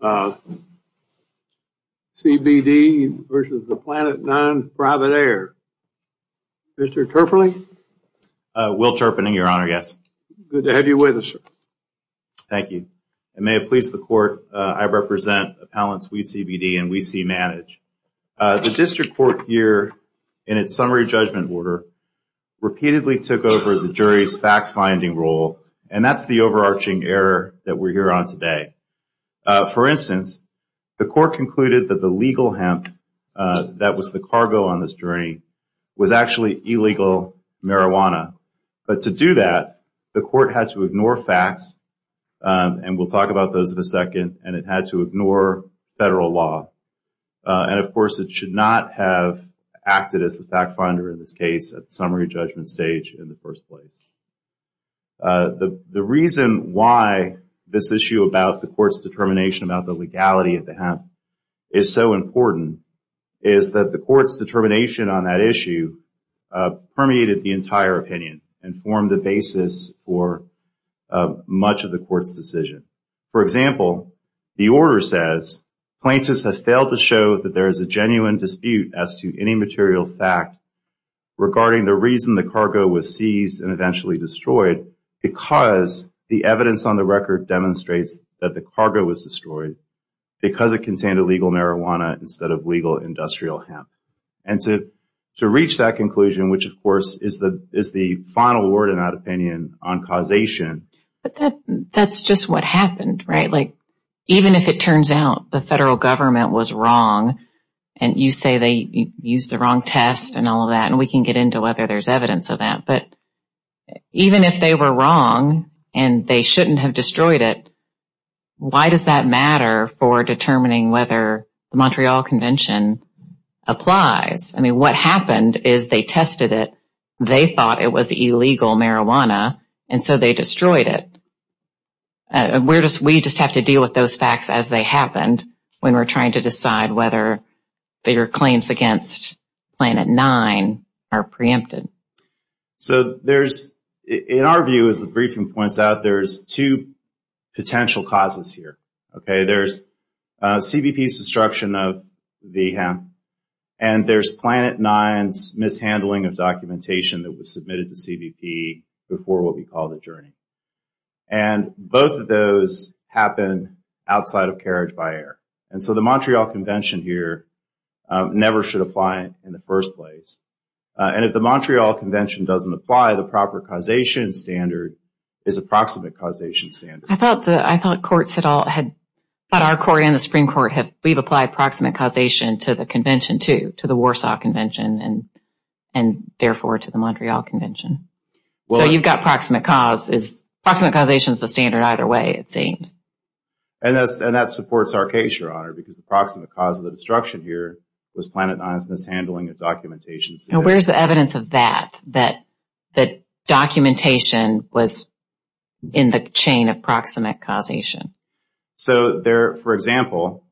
of CBD versus the Planet Nine Private Air. Mr. Turpeney? Will Turpeney, your honor, yes. Good to have you with us, sir. Thank you. I may have pleased the court. I represent appellants WeCBD and WeC-Manage. The district court here in its summary judgment order repeatedly took over the jury's fact-finding role, and that's the overarching error that we're here on today. For instance, the court concluded that the legal hemp that was the cargo on this journey was actually illegal marijuana. But to do that, the court had to ignore facts, and we'll talk about those in a second, and it had to ignore federal law. And of course, it should not have acted as the fact-finder in this case at the summary judgment stage in the first place. But the reason why this issue about the court's determination about the legality of the hemp is so important is that the court's determination on that issue permeated the entire opinion and formed the basis for much of the court's decision. For example, the order says plaintiffs have failed to show that there is a genuine dispute as to any material fact regarding the reason the cargo was seized and eventually destroyed because the evidence on the record demonstrates that the cargo was destroyed because it contained illegal marijuana instead of legal industrial hemp. And to reach that conclusion, which, of course, is the final word in that opinion on causation. But that's just what happened, right? Even if it turns out the federal government was wrong and you say they used the wrong test and all of that, and we can get into whether there's evidence of that, but even if they were wrong and they shouldn't have destroyed it, why does that matter for determining whether the Montreal Convention applies? I mean, what happened is they tested it. They thought it was illegal marijuana and so they destroyed it. We just have to deal with those facts as they happened when we're trying to decide whether their claims against Planet Nine are preempted. So there's, in our view, as the briefing points out, there's two potential causes here, okay? There's CBP's destruction of the hemp and there's Planet Nine's mishandling of documentation that was submitted to CBP before what we call the journey. And both of those happen outside of carriage by air. And so the Montreal Convention here never should apply in the first place. And if the Montreal Convention doesn't apply, the proper causation standard is a proximate causation standard. I thought courts had all had, but our court and the Supreme Court have, we've applied proximate causation to the convention too, to the Warsaw Convention and therefore to the Montreal Convention. So you've got proximate cause is, proximate causation is the standard either way, it seems. And that supports our case, Your Honor, because the proximate cause of the destruction here was Planet Nine's mishandling of documentation. And where's the evidence of that, that documentation was in the chain of proximate causation? So there, for example,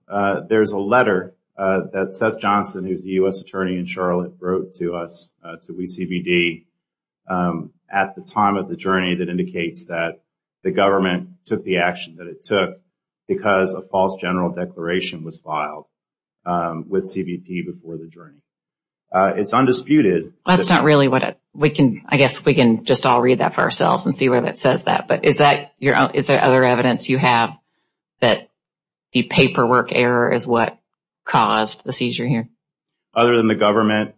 there's a letter that Seth Johnson, who's a U.S. attorney in Charlotte, wrote to us, to WeCBD, at the time of the journey that indicates that the government took the action that it took because a false general declaration was filed with CBP before the journey. It's undisputed. That's not really what it, we can, I guess, we can just all read that for ourselves and see whether it says that. But is that, is there other evidence you have that the paperwork error is what caused the seizure here? Other than the government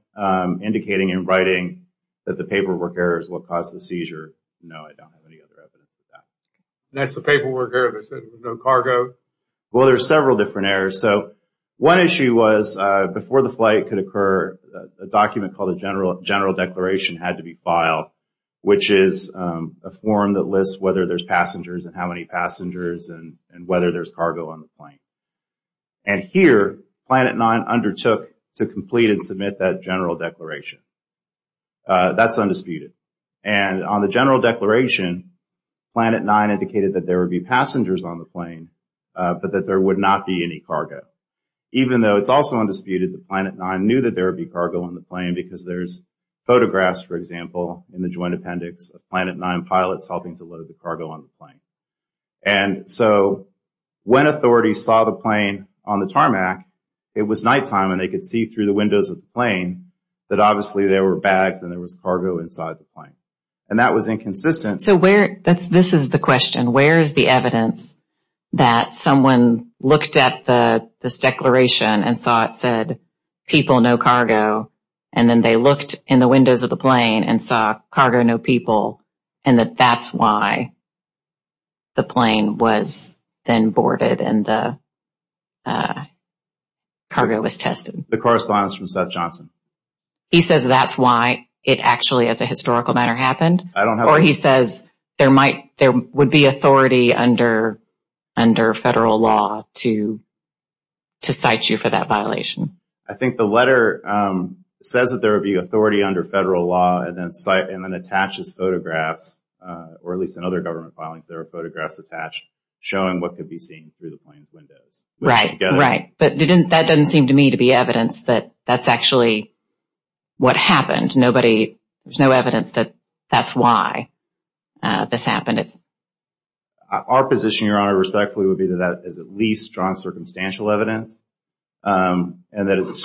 indicating and writing that the paperwork error is what caused the seizure, no, I don't have any other evidence of that. That's the paperwork error that says there was no cargo? Well, there's several different errors. So one issue was, before the flight could occur, a document called a general declaration had to be filed, which is a form that lists whether there's passengers and how many passengers and whether there's cargo on the plane. And here, Planet Nine undertook to complete and submit that general declaration. That's undisputed. And on the general declaration, Planet Nine indicated that there would be passengers on the plane, but that there would not be any cargo. Even though it's also undisputed that Planet Nine knew that there would be cargo on the plane because there's photographs, for example, in the joint appendix of Planet Nine pilots helping to load the cargo on the plane. And so when authorities saw the plane on the tarmac, it was nighttime and they could see through the windows of the plane that obviously there were bags and there was cargo inside the plane. And that was inconsistent. So where, that's, this is the question. Where's the evidence that someone looked at this declaration and saw it said, people, no cargo. And then they looked in the windows of the plane and saw cargo, no people, and that that's why the plane was then boarded and the cargo was tested. The correspondence from Seth Johnson. He says that's why it actually, as a historical matter, happened. Or he says there might, there would be authority under federal law to cite you for that violation. I think the letter says that there would be authority under federal law and then attaches photographs, or at least in other government filings, there are photographs attached showing what could be seen through the plane's windows. Right, right. But that doesn't seem to me to be evidence that that's actually what happened. There's no evidence that that's why this happened. Our position, Your Honor, respectfully, would be that that is at least strong circumstantial evidence. And that it's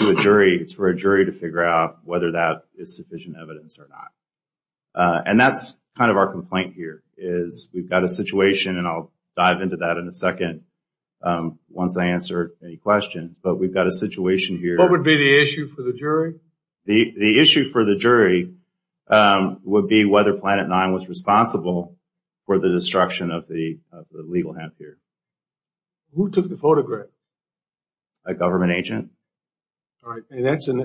for a jury to figure out whether that is sufficient evidence or not. And that's kind of our complaint here, is we've got a situation, and I'll dive into that in a second once I answer any questions. But we've got a situation here. What would be the issue for the jury? The issue for the jury would be whether Planet Nine was responsible for the destruction of the legal hamper. Who took the photograph? A government agent. All right, and that's in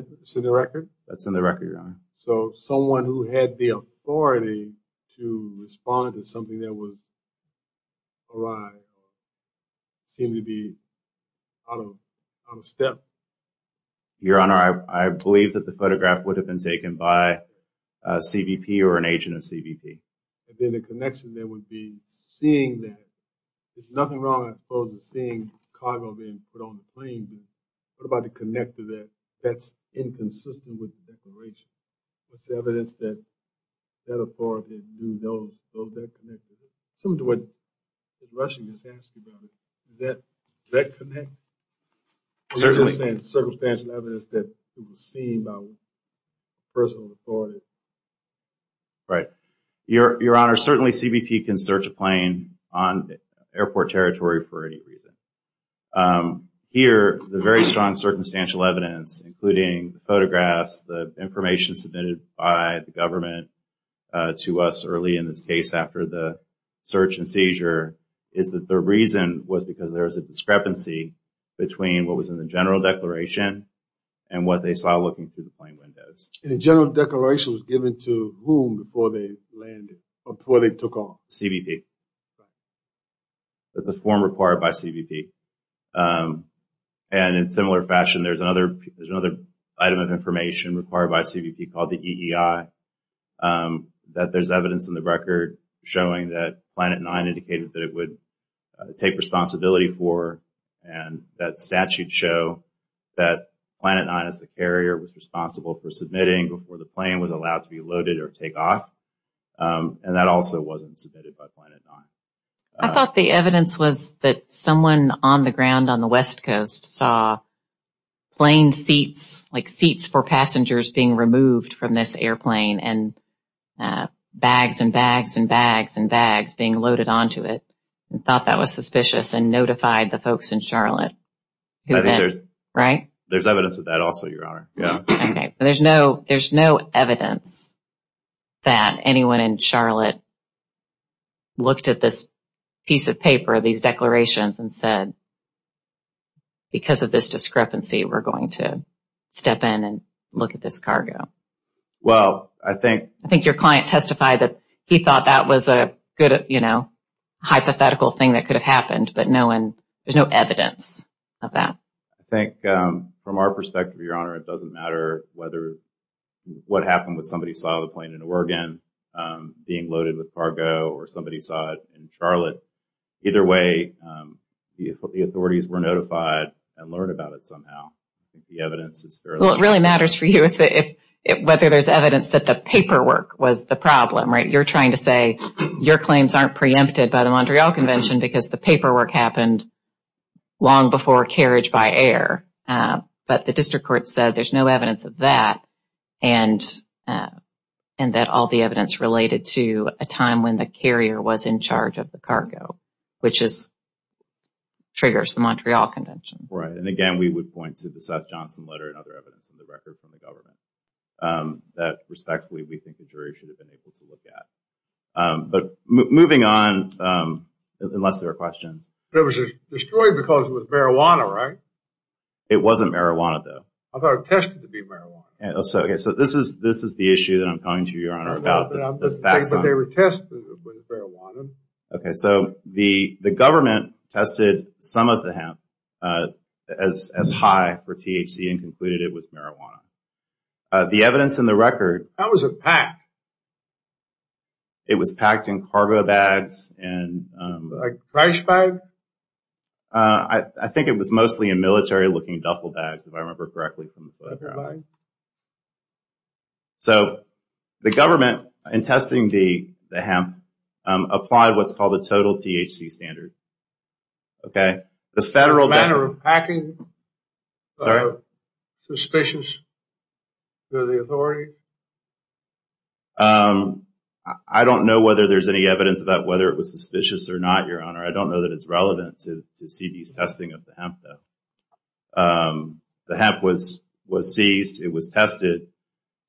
the record? That's in the record, Your Honor. So someone who had the authority to respond to something that would arise or seem to be out of step? Your Honor, I believe that the photograph would have been taken by a CBP or an agent of CBP. And then the connection there would be seeing that there's nothing wrong, I suppose, with seeing cargo being put on the plane. What about the connector there? That's inconsistent with the declaration. What's the evidence that that authority knew that connector? Some of what Russian has asked about it, that connect? I'm just saying circumstantial evidence that it was seen by a person of authority. Right. Your Honor, certainly CBP can search a plane on airport territory for any reason. Here, the very strong circumstantial evidence, including photographs, the information submitted by the government to us early in this case after the search and seizure, is that the reason was because there was a discrepancy between what was in the general declaration and what they saw looking through the plane windows. And the general declaration was given to whom before they landed or before they took off? CBP. That's a form required by CBP. And in similar fashion, there's another item of information required by CBP called the EEI that there's evidence in the record showing that Planet Nine indicated that it would take responsibility for. And that statute show that Planet Nine as the carrier was responsible for submitting before the plane was allowed to be loaded or take off. And that also wasn't submitted by Planet Nine. I thought the evidence was that someone on the ground on the west coast saw plane seats, being removed from this airplane and bags and bags and bags and bags being loaded onto it and thought that was suspicious and notified the folks in Charlotte. Right? There's evidence of that also, Your Honor. Yeah. Okay. There's no evidence that anyone in Charlotte looked at this piece of paper, these declarations and said, because of this discrepancy, we're going to step in and look at this cargo. Well, I think... I think your client testified that he thought that was a good hypothetical thing that could have happened, but there's no evidence of that. I think from our perspective, Your Honor, it doesn't matter what happened with somebody saw the plane in Oregon being loaded with cargo or somebody saw it in Charlotte. Either way, the authorities were notified and learned about it somehow. It really matters for you whether there's evidence that the paperwork was the problem, right? You're trying to say your claims aren't preempted by the Montreal Convention because the paperwork happened long before carriage-by-air, but the district court said there's no evidence of that and that all the evidence related to a time when the carrier was in charge of the cargo, which triggers the Montreal Convention. Right. And again, we would point to the Seth Johnson letter and other evidence in the record from the government that, respectfully, we think the jury should have been able to look at. But moving on, unless there are questions. It was destroyed because it was marijuana, right? It wasn't marijuana, though. I thought it was tested to be marijuana. So this is the issue that I'm coming to, Your Honor, about the fact that- But they were tested with marijuana. Okay. So the government tested some of the hemp as high for THC and concluded it was marijuana. The evidence in the record- How was it packed? It was packed in cargo bags and- Like trash bags? I think it was mostly in military-looking duffel bags, if I remember correctly. So the government, in testing the hemp, applied what's called the total THC standard. Okay. The federal- The manner of packing? Sorry? Suspicious to the authority? Um, I don't know whether there's any evidence about whether it was suspicious or not, Your Honor. I don't know that it's relevant to C.V.'s testing of the hemp, though. The hemp was seized. It was tested.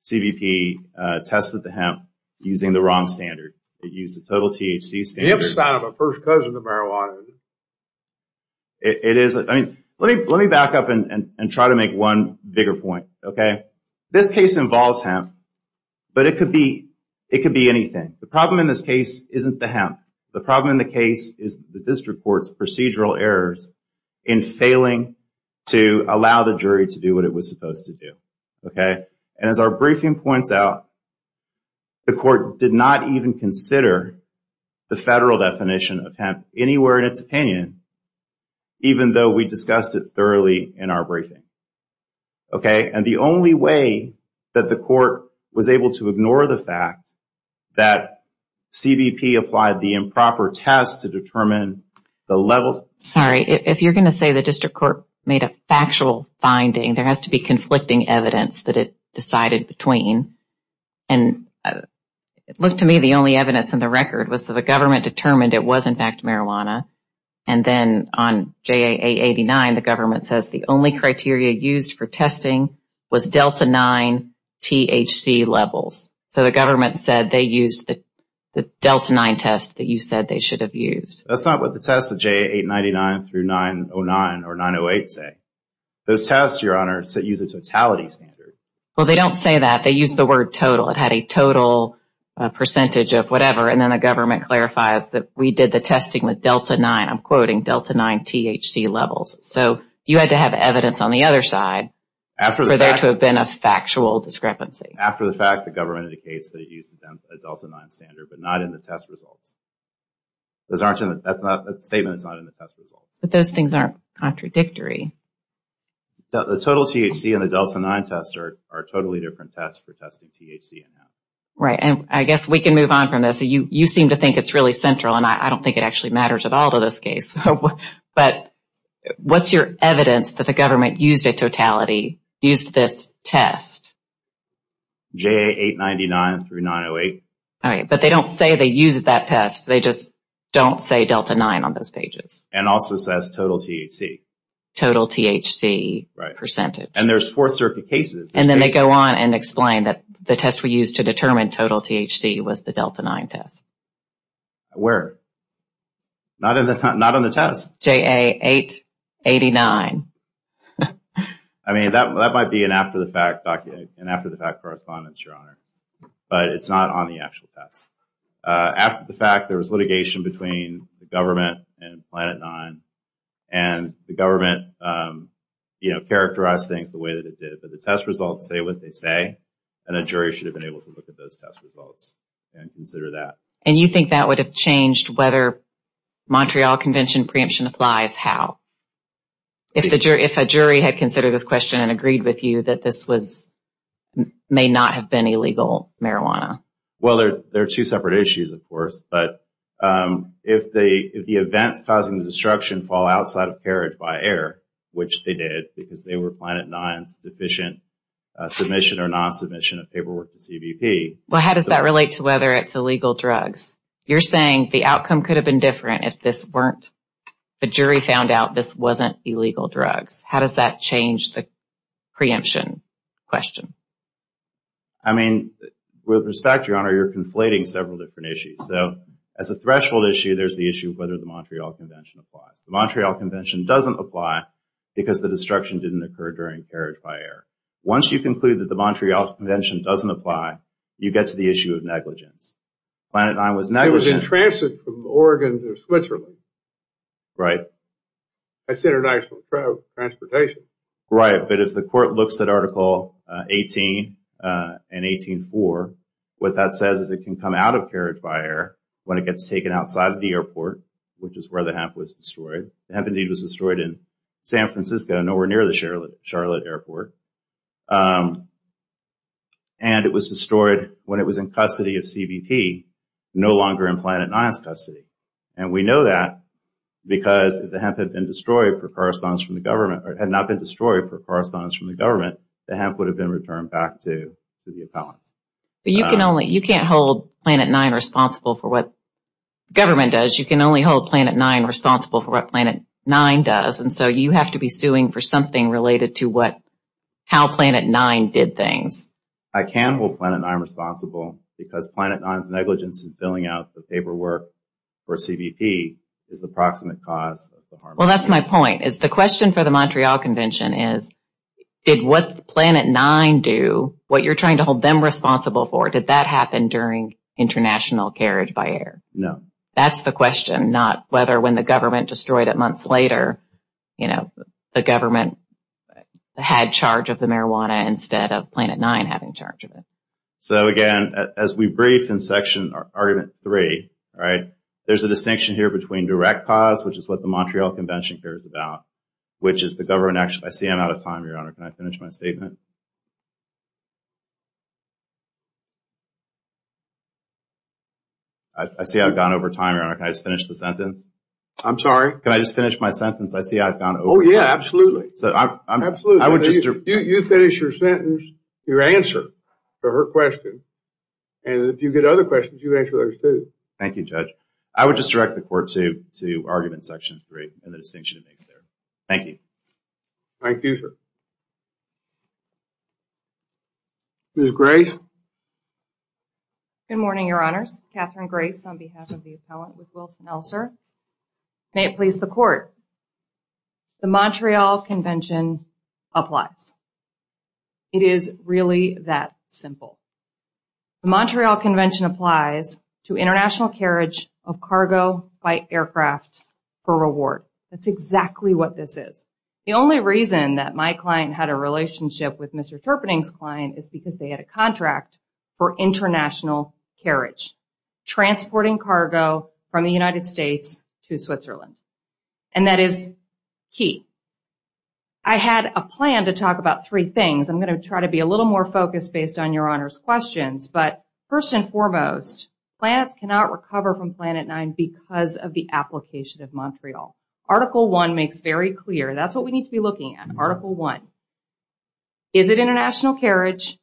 C.V.P. tested the hemp using the wrong standard. It used the total THC standard. Hemp's not my first cousin of marijuana. It is- I mean, let me back up and try to make one bigger point, okay? This case involves hemp, but it could be- it could be anything. The problem in this case isn't the hemp. The problem in the case is the district court's procedural errors in failing to allow the jury to do what it was supposed to do, okay? And as our briefing points out, the court did not even consider the federal definition of hemp anywhere in its opinion, even though we discussed it thoroughly in our briefing, okay? And the only way that the court was able to ignore the fact that C.V.P. applied the improper test to determine the levels- Sorry, if you're going to say the district court made a factual finding, there has to be conflicting evidence that it decided between. And it looked to me the only evidence in the record was that the government determined it was, in fact, marijuana. And then on J.A.A. 89, the government says the only criteria used for testing was Delta 9 THC levels. So the government said they used the Delta 9 test that you said they should have used. That's not what the tests of J.A.A. 899 through 909 or 908 say. Those tests, Your Honor, use a totality standard. Well, they don't say that. They use the word total. It had a total percentage of whatever. And then the government clarifies that we did the testing with Delta 9. I'm quoting Delta 9 THC levels. So you had to have evidence on the other side for there to have been a factual discrepancy. After the fact, the government indicates that it used a Delta 9 standard, but not in the test results. Those aren't in the... That's not a statement. It's not in the test results. But those things aren't contradictory. The total THC and the Delta 9 test are totally different tests for testing THC and not. Right. And I guess we can move on from this. You seem to think it's really central and I don't think it actually matters at all to this case. But what's your evidence that the government used a totality, used this test? JA 899 through 908. All right. But they don't say they used that test. They just don't say Delta 9 on those pages. And also says total THC. Total THC percentage. And there's Fourth Circuit cases. And then they go on and explain that the test we used to determine total THC was the Delta 9 test. Where? Not on the test. JA 889. I mean, that might be an after the fact document, an after the fact correspondence, Your Honor. But it's not on the actual test. After the fact, there was litigation between the government and Planet Nine. And the government characterized things the way that it did. But the test results say what they say. And a jury should have been able to look at those test results and consider that. And you think that would have changed whether Montreal Convention preemption applies? How? If a jury had considered this question and agreed with you that this was, may not have been illegal marijuana? Well, they're two separate issues, of course. But if the events causing the destruction fall outside of carriage by air, which they did, because they were Planet Nine's deficient submission or non-submission of paperwork to CBP. Well, how does that relate to whether it's illegal drugs? You're saying the outcome could have been different if the jury found out this wasn't illegal drugs. How does that change the preemption question? I mean, with respect, Your Honor, you're conflating several different issues. So as a threshold issue, there's the issue of whether the Montreal Convention applies. The Montreal Convention doesn't apply because the destruction didn't occur during carriage by air. Once you conclude that the Montreal Convention doesn't apply, you get to the issue of negligence. Planet Nine was negligent. It was in transit from Oregon to Switzerland. Right. That's international transportation. Right, but if the court looks at Article 18 and 18.4, what that says is it can come out of carriage by air when it gets taken outside of the airport, which is where the hemp was destroyed. The hemp, indeed, was destroyed in San Francisco, nowhere near the Charlotte Airport. And it was destroyed when it was in custody of CBP, no longer in Planet Nine's custody. And we know that because if the hemp had been destroyed for correspondence from the government, or had not been destroyed for correspondence from the government, the hemp would have been returned back to the appellants. But you can only, you can't hold Planet Nine responsible for what government does. You can only hold Planet Nine responsible And so you have to be suing for something related to what the government does. How Planet Nine did things. I can hold Planet Nine responsible because Planet Nine's negligence in filling out the paperwork for CBP is the proximate cause of the harm. Well, that's my point, is the question for the Montreal Convention is, did what Planet Nine do, what you're trying to hold them responsible for, did that happen during international carriage by air? No. That's the question, not whether when the government destroyed it months later, you know, the government had charge of the marijuana instead of Planet Nine having charge of it. So again, as we brief in section, argument three, all right, there's a distinction here between direct cause, which is what the Montreal Convention cares about, which is the government actually, I see I'm out of time, Your Honor, can I finish my statement? I see I've gone over time, Your Honor, can I just finish the sentence? I'm sorry? Can I just finish my sentence? I see I've gone over time. Oh, yeah, absolutely. You finish your sentence, your answer to her question, and if you get other questions, you answer those too. Thank you, Judge. I would just direct the court to argument section three and the distinction it makes there. Thank you. Thank you, sir. Ms. Grace? Good morning, Your Honors. Catherine Grace on behalf of the appellant, Ms. Wilson-Elser. May it please the court, the Montreal Convention applies. It is really that simple. The Montreal Convention applies to international carriage of cargo by aircraft for reward. That's exactly what this is. The only reason that my client had a relationship with Mr. Terpening's client is because they had a contract for international carriage, transporting cargo from the United States to Switzerland, and that is key. I had a plan to talk about three things. I'm going to try to be a little more focused based on Your Honor's questions, but first and foremost, planets cannot recover from Planet Nine because of the application of Montreal. Article one makes very clear. That's what we need to be looking at. Article one. Is it international carriage?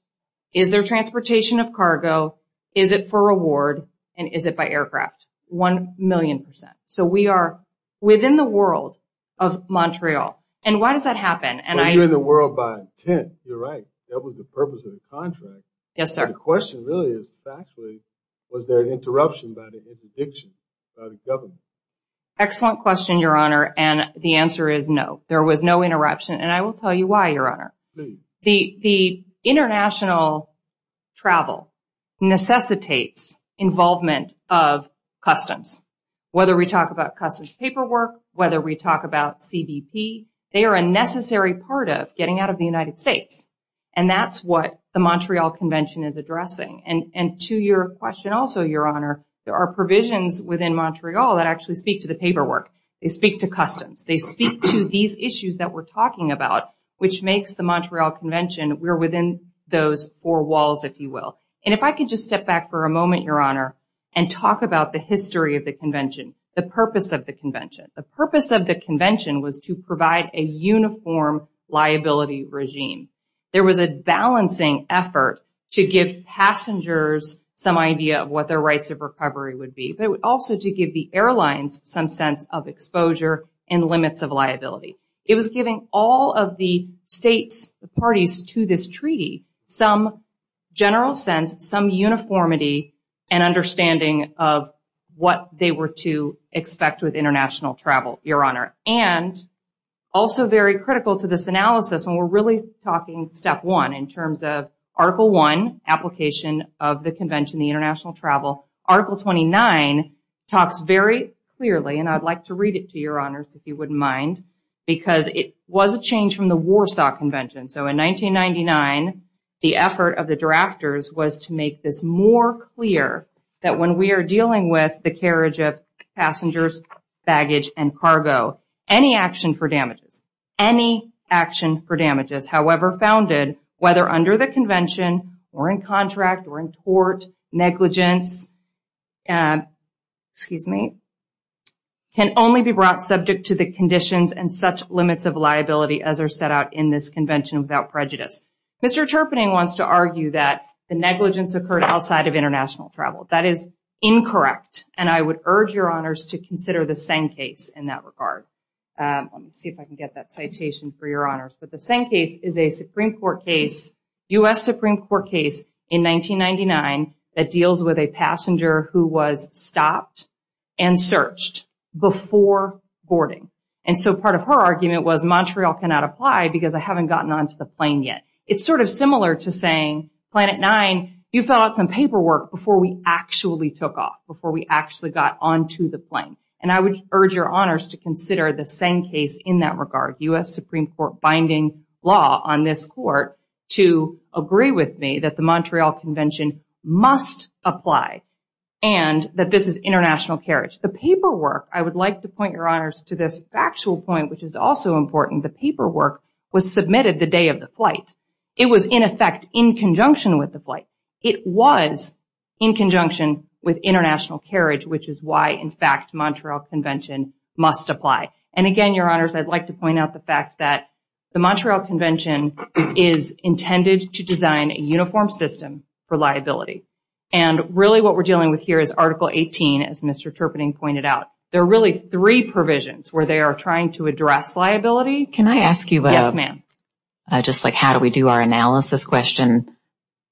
Is there transportation of cargo? Is it for reward? And is it by aircraft? One million percent. So we are within the world of Montreal. And why does that happen? Well, you're in the world by intent. You're right. That was the purpose of the contract. Yes, sir. The question really is, factually, was there an interruption by the interdiction by the government? Excellent question, Your Honor. And the answer is no. There was no interruption. And I will tell you why, Your Honor. The international travel necessitates involvement of customs. Whether we talk about customs paperwork, whether we talk about CBP, they are a necessary part of getting out of the United States. And that's what the Montreal Convention is addressing. And to your question also, Your Honor, there are provisions within Montreal that actually speak to the paperwork. They speak to customs. They speak to these issues that we're talking about, which makes the Montreal Convention, we're within those four walls, if you will. And if I could just step back for a moment, Your Honor, and talk about the history of the convention, the purpose of the convention. The purpose of the convention was to provide a uniform liability regime. There was a balancing effort to give passengers some idea of what their rights of recovery would be, but also to give the airlines some sense of exposure and limits of liability. It was giving all of the states, the parties to this treaty, some general sense, some uniformity and understanding of what they were to expect with international travel, Your Honor. And also very critical to this analysis, and we're really talking step one in terms of Article I, application of the convention, the international travel. Article 29 talks very clearly, and I'd like to read it to Your Honors if you wouldn't mind. Because it was a change from the Warsaw Convention. So in 1999, the effort of the drafters was to make this more clear that when we are dealing with the carriage of passengers, baggage and cargo, any action for damages, any action for damages, however founded, whether under the convention or in contract or in tort, negligence, excuse me, can only be brought subject to the conditions and such limits of liability as are set out in this convention without prejudice. Mr. Terpening wants to argue that the negligence occurred outside of international travel. That is incorrect, and I would urge Your Honors to consider the same case in that regard. Let me see if I can get that citation for Your Honors. But the same case is a Supreme Court case, U.S. Supreme Court case in 1999 that deals with a passenger who was stopped and searched before boarding. And so part of her argument was Montreal cannot apply because I haven't gotten onto the plane yet. It's sort of similar to saying, Planet Nine, you fill out some paperwork before we actually took off, before we actually got onto the plane. And I would urge Your Honors to consider the same case in that regard, U.S. Supreme Court binding law on this court to agree with me that the Montreal Convention must apply and that this is international carriage. The paperwork, I would like to point Your Honors to this factual point, which is also important. The paperwork was submitted the day of the flight. It was in effect in conjunction with the flight. It was in conjunction with international carriage, which is why, in fact, Montreal Convention must apply. And again, Your Honors, I'd like to point out the fact that the Montreal Convention is intended to design a uniform system for liability. And really what we're dealing with here is Article 18, as Mr. Terpening pointed out. There are really three provisions where they are trying to address liability. Can I ask you? Yes, ma'am. Just like how do we do our analysis question?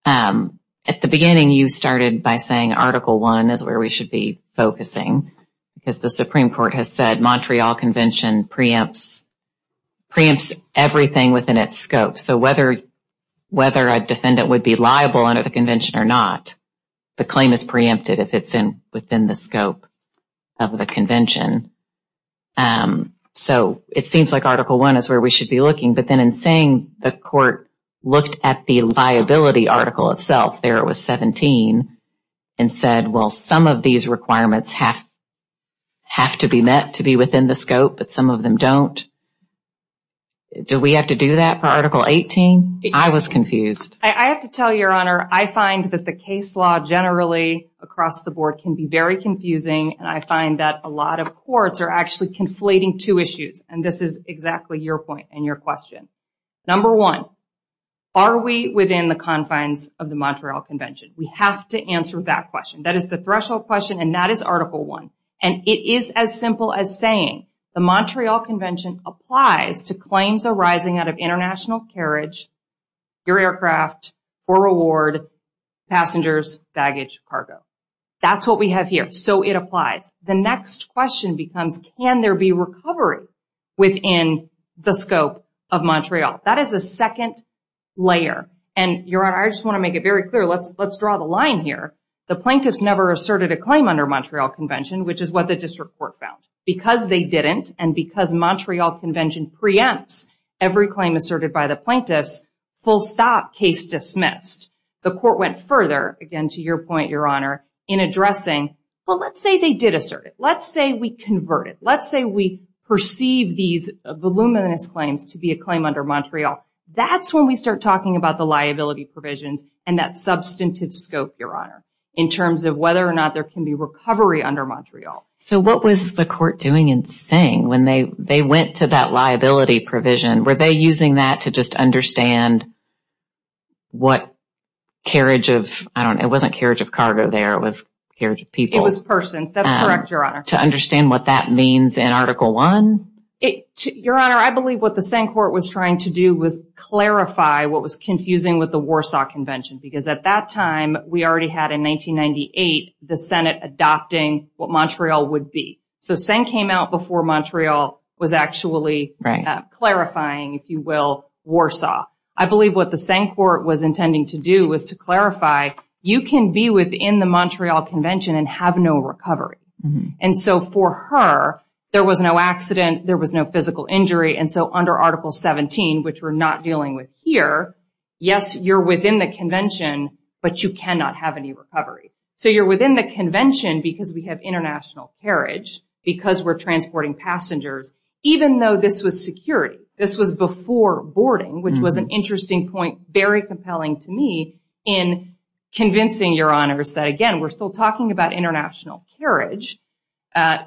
At the beginning, you started by saying Article 1 is where we should be focusing because the Supreme Court has said Montreal Convention preempts everything within its scope. So whether a defendant would be liable under the convention or not, the claim is preempted if it's within the scope of the convention. So it seems like Article 1 is where we should be looking. But then in saying the court looked at the liability article itself, there it was 17, and said, well, some of these requirements have to be met to be within the scope, but some of them don't. Do we have to do that for Article 18? I was confused. I have to tell you, Your Honor, I find that the case law generally across the board can be very confusing. And I find that a lot of courts are actually conflating two issues. And this is exactly your point and your question. Number one, are we within the confines of the Montreal Convention? We have to answer that question. That is the threshold question, and that is Article 1. And it is as simple as saying the Montreal Convention applies to claims arising out of international carriage, your aircraft or reward, passengers, baggage, cargo. That's what we have here. So it applies. The next question becomes, can there be recovery within the scope of Montreal? That is a second layer. And, Your Honor, I just want to make it very clear. Let's draw the line here. The plaintiffs never asserted a claim under Montreal Convention, which is what the district court found. Because they didn't, and because Montreal Convention preempts every claim asserted by the plaintiffs, full stop, case dismissed. The court went further, again, to your point, Your Honor, in addressing, well, let's say they did assert it. Let's say we convert it. Let's say we perceive these voluminous claims to be a claim under Montreal. That's when we start talking about the liability provisions and that substantive scope, Your Honor, in terms of whether or not there can be recovery under Montreal. So what was the court doing and saying when they went to that liability provision? Were they using that to just understand what carriage of, I don't know, it wasn't carriage of cargo there. It was carriage of people. It was persons. That's correct, Your Honor. To understand what that means in Article 1? Your Honor, I believe what the Seng Court was trying to do was clarify what was confusing with the Warsaw Convention. Because at that time, we already had in 1998 the Senate adopting what Montreal would be. So Seng came out before Montreal was actually clarifying, if you will, Warsaw. I believe what the Seng Court was intending to do was to clarify, you can be within the Montreal Convention and have no recovery. And so for her, there was no accident. There was no physical injury. And so under Article 17, which we're not dealing with here, yes, you're within the convention, but you cannot have any recovery. So you're within the convention because we have international carriage, because we're transporting passengers, even though this was security. This was before boarding, which was an interesting point, very compelling to me, in convincing Your Honors that, again, we're still talking about international carriage,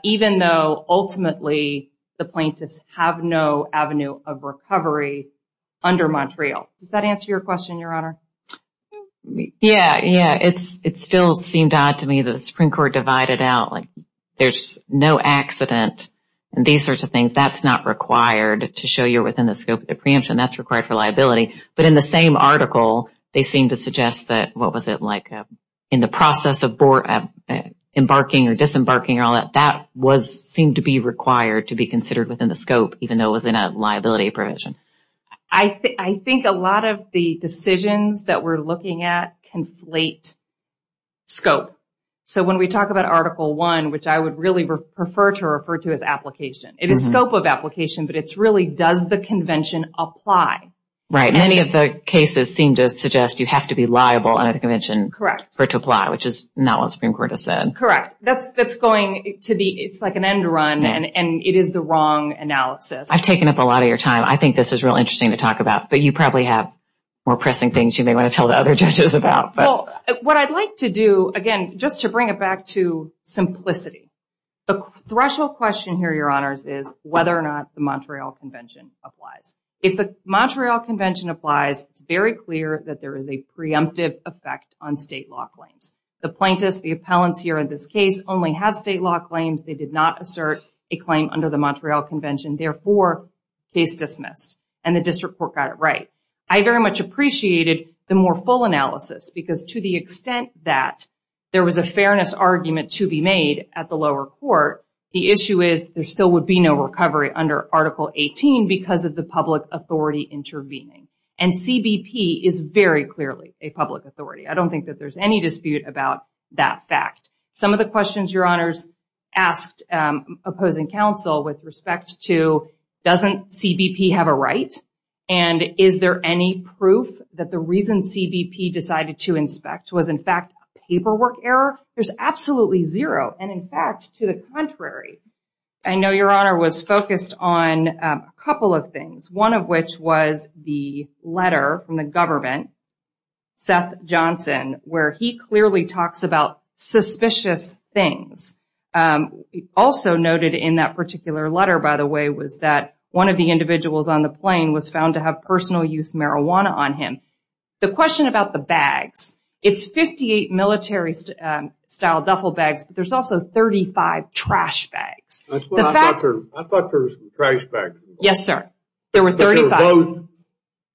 even though ultimately the plaintiffs have no avenue of recovery under Montreal. Does that answer your question, Your Honor? Yeah, yeah. It still seemed odd to me that the Supreme Court divided out, like there's no accident and these sorts of things. That's not required to show you're within the scope of the preemption. That's required for liability. But in the same article, they seem to suggest that, what was it, like, in the process of embarking or disembarking or all that, that seemed to be required to be considered within the scope, even though it was in a liability provision. I think a lot of the decisions that we're looking at conflate scope. So when we talk about Article 1, which I would really prefer to refer to as application, it is scope of application, but it's really does the convention apply? Right. Many of the cases seem to suggest you have to be liable under the convention for it to apply, which is not what the Supreme Court has said. Correct. That's going to be, it's like an end run and it is the wrong analysis. I've taken up a lot of your time. I think this is real interesting to talk about, but you probably have more pressing things you may want to tell the other judges about. What I'd like to do, again, just to bring it back to simplicity, the threshold question here, Your Honors, is whether or not the Montreal Convention applies. If the Montreal Convention applies, it's very clear that there is a preemptive effect on state law claims. The plaintiffs, the appellants here in this case, only have state law claims. They did not assert a claim under the Montreal Convention. Therefore, case dismissed. And the district court got it right. I very much appreciated the more full analysis because to the extent that there was a fairness argument to be made at the lower court, the issue is there still would be no recovery under Article 18 because of the public authority intervening. And CBP is very clearly a public authority. I don't think that there's any dispute about that fact. Some of the questions, Your Honors, asked opposing counsel with respect to, doesn't CBP have a right? And is there any proof that the reason CBP decided to inspect was in fact paperwork error? There's absolutely zero. And in fact, to the contrary, I know Your Honor was focused on a couple of things, one of which was the letter from the government, Seth Johnson, where he clearly talks about suspicious things. Also noted in that particular letter, by the way, was that one of the individuals on the plane was found to have personal use marijuana on him. The question about the bags, it's 58 military style duffel bags, but there's also 35 trash bags. I thought there was some trash bags involved. Yes, sir. There were 35. Both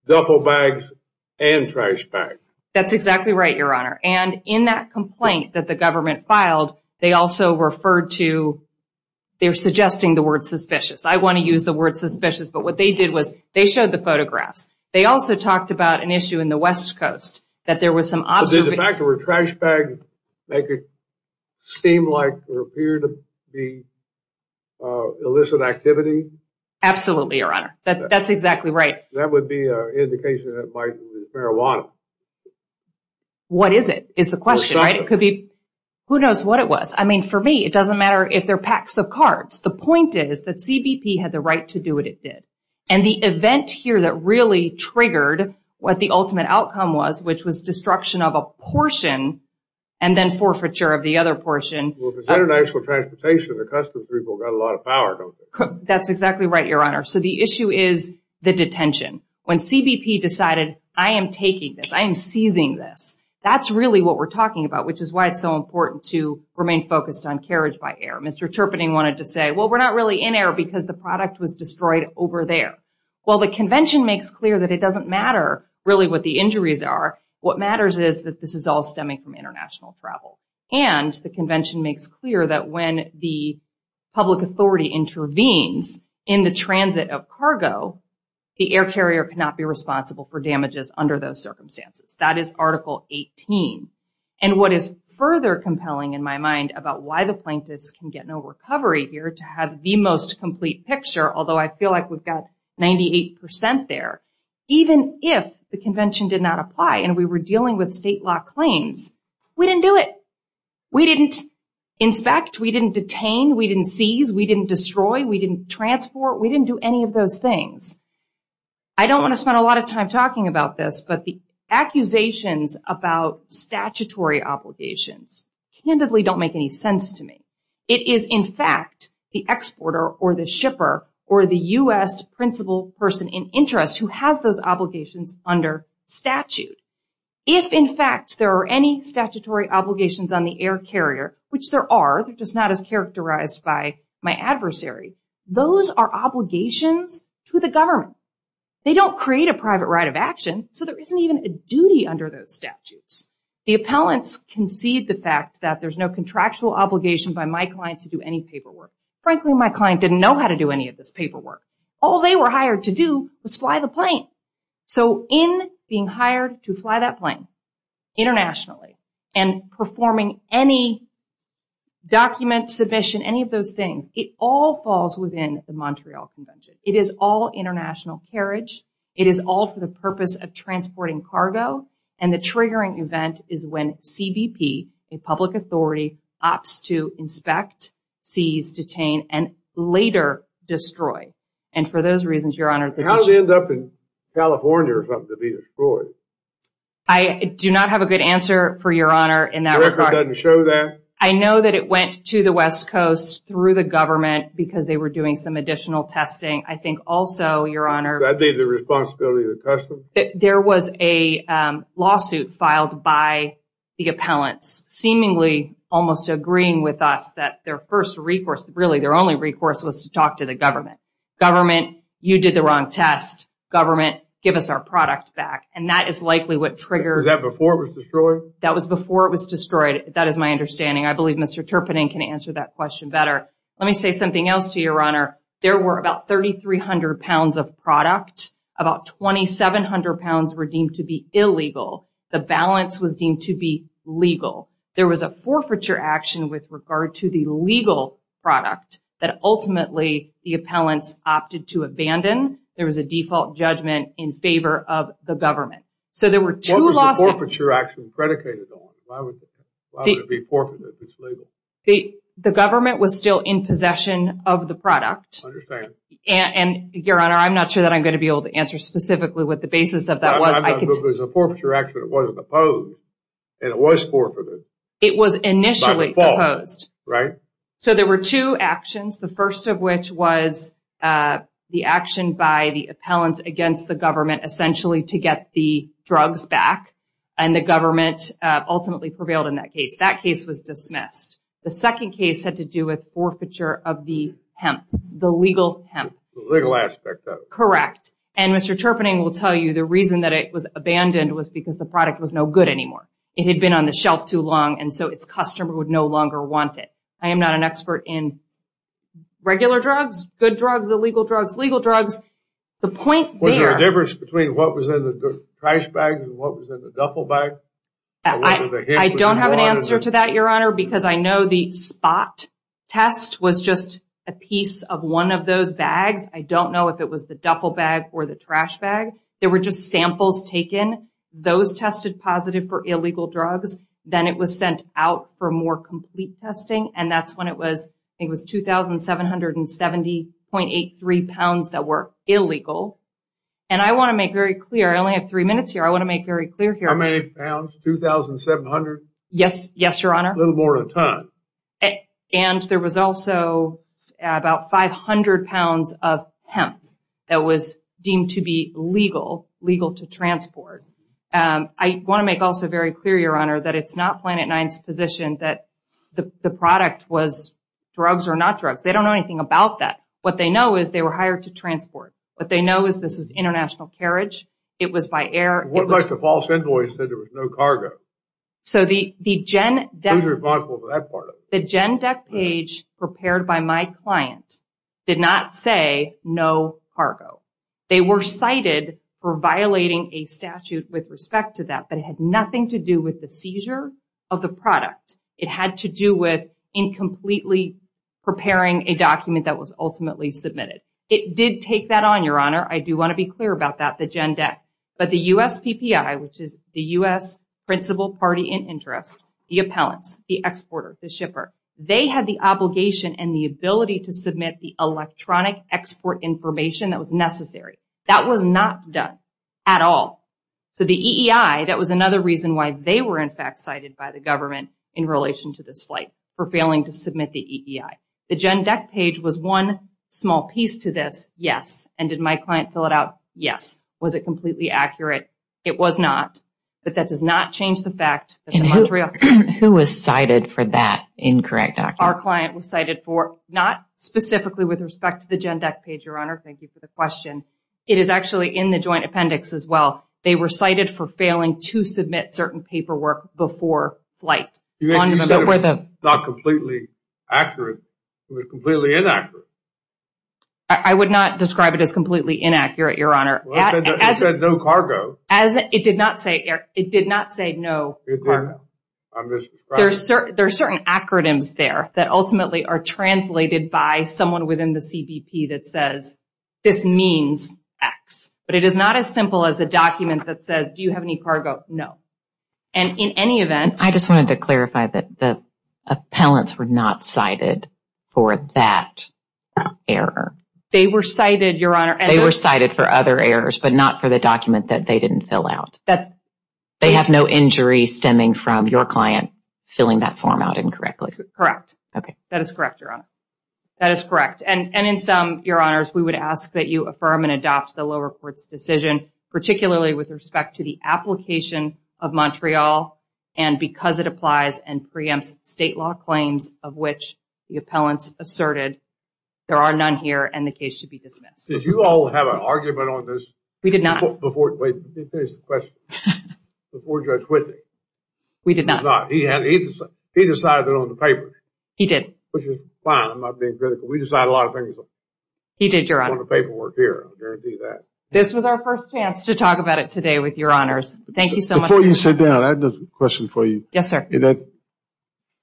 duffel bags and trash bags. That's exactly right, Your Honor. And in that complaint that the government filed, they also referred to, they're suggesting the word suspicious. I want to use the word suspicious, but what they did was they showed the photographs. They also talked about an issue in the West Coast that there was some observation. But did the fact there were trash bags make it seem like or appear to be illicit activity? Absolutely, Your Honor. That's exactly right. That would be an indication that it might have been marijuana. What is it is the question, right? It could be, who knows what it was. I mean, for me, it doesn't matter if they're packs of cards. The point is that CBP had the right to do what it did. And the event here that really triggered what the ultimate outcome was, which was destruction of a portion and then forfeiture of the other portion. Well, if it's international transportation, the customs people got a lot of power, don't they? That's exactly right, Your Honor. So the issue is the detention. When CBP decided, I am taking this, I am seizing this. That's really what we're talking about, which is why it's so important to remain focused on carriage by air. Mr. Chirping wanted to say, well, we're not really in air because the product was destroyed over there. Well, the convention makes clear that it doesn't matter really what the injuries are. What matters is that this is all stemming from international travel. And the convention makes clear that when the public authority intervenes in the transit of cargo, the air carrier cannot be responsible for damages under those circumstances. That is Article 18. And what is further compelling in my mind about why the plaintiffs can get no recovery here to have the most complete picture, although I feel like we've got 98% there, even if the convention did not apply and we were dealing with state law claims, we didn't do it. We didn't inspect. We didn't detain. We didn't seize. We didn't destroy. We didn't transport. We didn't do any of those things. I don't want to spend a lot of time talking about this, but the accusations about statutory obligations candidly don't make any sense to me. It is in fact the exporter or the shipper or the U.S. principal person in interest who has those obligations under statute. If in fact there are any statutory obligations on the air carrier, which there are, they're just not as characterized by my adversary, those are obligations to the government. They don't create a private right of action, so there isn't even a duty under those statutes. The appellants concede the fact that there's no contractual obligation by my client to do any paperwork. Frankly, my client didn't know how to do any of this paperwork. All they were hired to do was fly the plane. So in being hired to fly that plane internationally and performing any document, submission, any of those things, it all falls within the Montreal Convention. It is all international carriage. It is all for the purpose of transporting cargo. And the triggering event is when CBP, a public authority, opts to inspect, seize, detain, and later destroy. And for those reasons, Your Honor— How did it end up in California or something to be destroyed? I do not have a good answer for Your Honor. The record doesn't show that? I know that it went to the West Coast through the government because they were doing some additional testing. I think also, Your Honor— That'd be the responsibility of the customs? There was a lawsuit filed by the appellants seemingly almost agreeing with us that their first recourse, really their only recourse, was to talk to the government. Government, you did the wrong test. Government, give us our product back. And that is likely what triggered— Was that before it was destroyed? That was before it was destroyed. That is my understanding. I believe Mr. Terpenin can answer that question better. Let me say something else to you, Your Honor. There were about 3,300 pounds of product. About 2,700 pounds were deemed to be illegal. The balance was deemed to be legal. There was a forfeiture action with regard to the legal product that ultimately the appellants opted to abandon. There was a default judgment in favor of the government. So, there were two lawsuits— What was the forfeiture action predicated on? Why would it be forfeited if it's legal? The government was still in possession of the product. I understand. And, Your Honor, I'm not sure that I'm going to be able to answer specifically what the basis of that was. I'm not sure if it was a forfeiture action that wasn't opposed and it was forfeited. It was initially opposed. Right? So, there were two actions, the first of which was the action by the appellants against the government, essentially to get the drugs back. And the government ultimately prevailed in that case. That case was dismissed. The second case had to do with forfeiture of the hemp, the legal hemp. The legal aspect of it. Correct. And Mr. Terpening will tell you the reason that it was abandoned was because the product was no good anymore. It had been on the shelf too long and so its customer would no longer want it. I am not an expert in regular drugs, good drugs, illegal drugs, legal drugs. The point there- Was there a difference between what was in the trash bags and what was in the duffel bag? I don't have an answer to that, Your Honor, because I know the spot test was just a piece of one of those bags. I don't know if it was the duffel bag or the trash bag. There were just samples taken. Those tested positive for illegal drugs. Then it was sent out for more complete testing. It was 2,770.83 pounds that were illegal. And I want to make very clear, I only have three minutes here, I want to make very clear here- How many pounds? 2,700? Yes, Your Honor. A little more than a ton. And there was also about 500 pounds of hemp that was deemed to be legal, legal to transport. I want to make also very clear, Your Honor, that it's not Planet Nine's position that the product was drugs or not drugs. They don't know anything about that. What they know is they were hired to transport. What they know is this was international carriage. It was by air. What about the false invoice that there was no cargo? So the GENDEC- Who's responsible for that part of it? The GENDEC page prepared by my client did not say no cargo. They were cited for violating a statute with respect to that, but it had nothing to do with the seizure of the product. It had to do with incompletely preparing a document that was ultimately submitted. It did take that on, Your Honor. I do want to be clear about that, the GENDEC. But the USPPI, which is the US Principal Party in Interest, the appellants, the exporter, the shipper, they had the obligation and the ability to submit the electronic export information that was necessary. That was not done at all. So the EEI, that was another reason why they were in fact cited by the government in relation to this flight for failing to submit the EEI. The GENDEC page was one small piece to this. Yes. And did my client fill it out? Yes. Was it completely accurate? It was not. But that does not change the fact- Who was cited for that incorrect document? Our client was cited for, not specifically with respect to the GENDEC page, Your Honor. Thank you for the question. It is actually in the joint appendix as well. They were cited for failing to submit certain paperwork before flight. You said it was not completely accurate. It was completely inaccurate. I would not describe it as completely inaccurate, Your Honor. It said no cargo. As it did not say, Eric, it did not say no cargo. There are certain acronyms there that ultimately are translated by someone within the CBP that says this means X. But it is not as simple as a document that says, do you have any cargo? No. And in any event- I just wanted to clarify that the appellants were not cited for that error. They were cited, Your Honor. They were cited for other errors, but not for the document that they didn't fill out. They have no injury stemming from your client filling that form out incorrectly. Correct. Okay. That is correct, Your Honor. That is correct. And in sum, Your Honors, we would ask that you affirm and adopt the low reports decision, particularly with respect to the application of Montreal, and because it applies and preempts state law claims of which the appellants asserted. There are none here and the case should be dismissed. Did you all have an argument on this? We did not. Before- wait, let me finish the question. Before Judge Whitney. We did not. He had- he decided it on the paper. He did. Which is fine. I'm not being critical. We decide a lot of things. He did, Your Honor. On the paperwork here. I guarantee that. This was our first chance to talk about it today with Your Honors. Thank you so much. Before you sit down, I have a question for you. Yes, sir. That-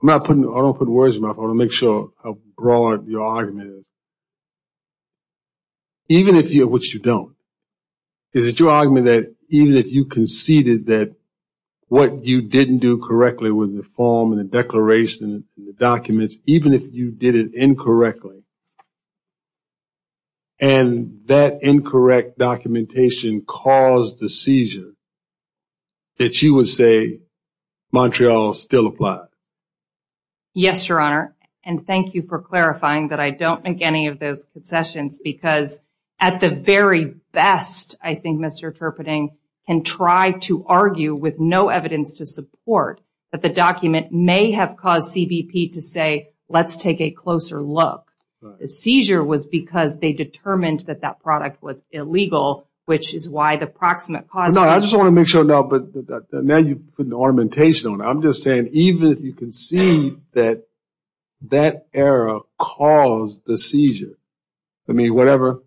I'm not putting- I don't put words in my mouth. I want to make sure how broad your argument is. Even if you- which you don't. Is it your argument that even if you conceded that what you didn't do correctly with the form and the declaration and the documents, even if you did it incorrectly and that incorrect documentation caused the seizure, that you would say Montreal still applied? Yes, Your Honor. And thank you for clarifying that I don't make any of those concessions because at the very best, I think Mr. Turpating can try to argue with no evidence to support that the document may have caused CBP to say, let's take a closer look. The seizure was because they determined that that product was illegal, which is why the proximate cause- I just want to make sure now, but now you put an ornamentation on it. I'm just saying, even if you concede that that error caused the seizure, I mean, whatever,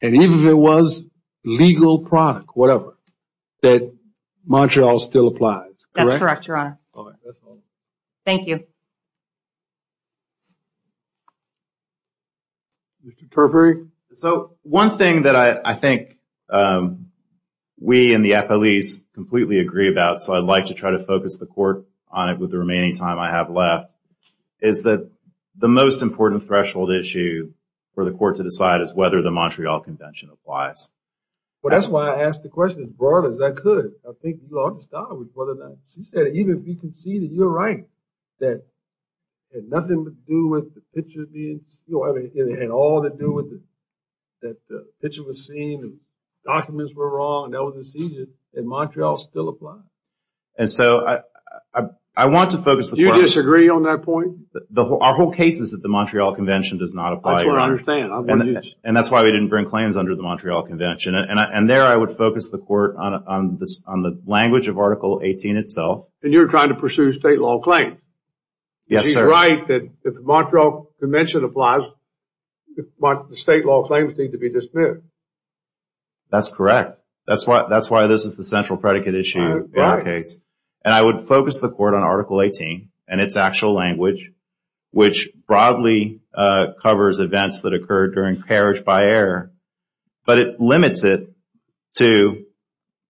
and even if it was legal product, whatever, that Montreal still applies. That's correct, Your Honor. Thank you. Mr. Turpating? So one thing that I think we in the FOEs completely agree about, so I'd like to try to focus the court on it with the remaining time I have left, is that the most important threshold issue for the court to decide is whether the Montreal Convention applies. Well, that's why I asked the question as broad as I could. I think you already started with whether that- She said even if we conceded, you're right, that it had nothing to do with the picture being- It had all to do with that the picture was seen, the documents were wrong, and that was a seizure, that Montreal still applies. And so I want to focus- Do you disagree on that point? Our whole case is that the Montreal Convention does not apply here. That's what I understand. And that's why we didn't bring claims under the Montreal Convention. And there I would focus the court on the language of Article 18 itself. And you're trying to pursue state law claims. Yes, sir. You're right that the Montreal Convention applies, but the state law claims need to be dismissed. That's correct. That's why this is the central predicate issue in the case. And I would focus the court on Article 18 and its actual language, which broadly covers events that occurred during carriage-by-air. But it limits it to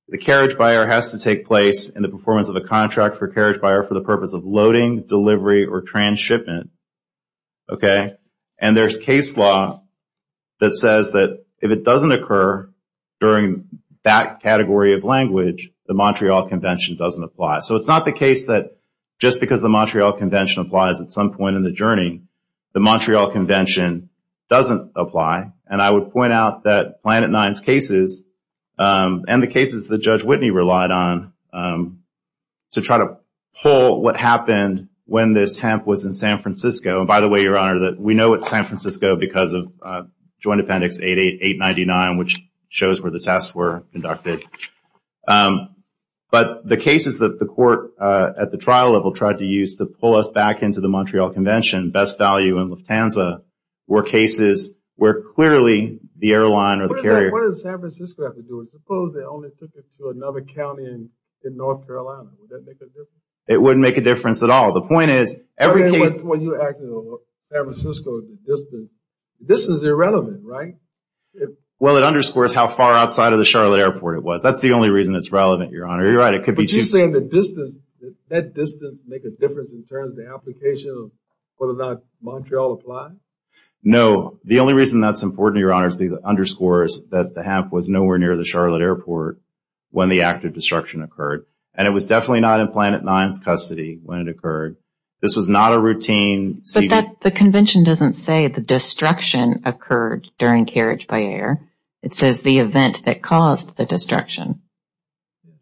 the carriage-by-air has to take place in the performance of a contract for carriage-by-air for the purpose of loading, delivery, or transshipment. Okay? And there's case law that says that if it doesn't occur during that category of language, the Montreal Convention doesn't apply. So it's not the case that just because the Montreal Convention applies at some point in the journey, the Montreal Convention doesn't apply. And I would point out that Planet Nine's cases and the cases that Judge Whitney to try to pull what happened when this hemp was in San Francisco. And by the way, Your Honor, we know it's San Francisco because of Joint Appendix 899, which shows where the tests were conducted. But the cases that the court at the trial level tried to use to pull us back into the Montreal Convention, best value in Lufthansa, were cases where clearly the airline or the carrier- What does San Francisco have to do? Suppose they only took it to another county in North Carolina. Would that make a difference? It wouldn't make a difference at all. The point is, every case- When you're acting over San Francisco, this is irrelevant, right? Well, it underscores how far outside of the Charlotte Airport it was. That's the only reason it's relevant, Your Honor. You're right, it could be- But you're saying the distance, that distance make a difference in terms of the application of whether or not Montreal applied? No, the only reason that's important, Your Honor, is because it underscores near the Charlotte Airport when the act of destruction occurred. And it was definitely not in Planet Nine's custody when it occurred. This was not a routine- But the convention doesn't say the destruction occurred during carriage by air. It says the event that caused the destruction.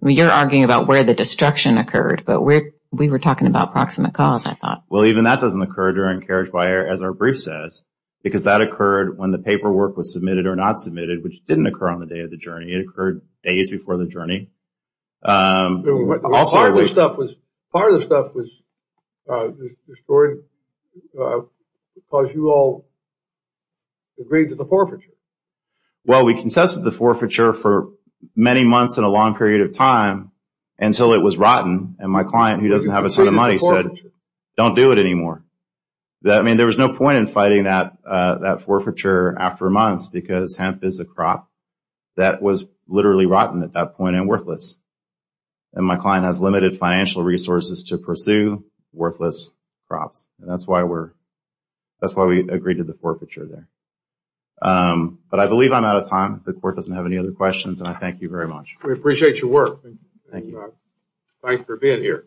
You're arguing about where the destruction occurred, but we were talking about proximate cause, I thought. Well, even that doesn't occur during carriage by air, as our brief says, because that occurred when the paperwork was submitted or not submitted, which didn't occur on the day of the journey. It occurred days before the journey. Part of the stuff was destroyed because you all agreed to the forfeiture. Well, we consented to the forfeiture for many months and a long period of time until it was rotten. And my client, who doesn't have a ton of money, said, don't do it anymore. I mean, there was no point in fighting that forfeiture after months, because hemp is a crop that was literally rotten at that point and worthless. And my client has limited financial resources to pursue worthless crops. And that's why we're, that's why we agreed to the forfeiture there. But I believe I'm out of time. The court doesn't have any other questions. And I thank you very much. We appreciate your work. Thanks for being here.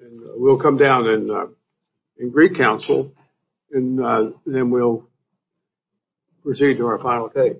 And we'll come down in Greek Council and then we'll proceed to our final take.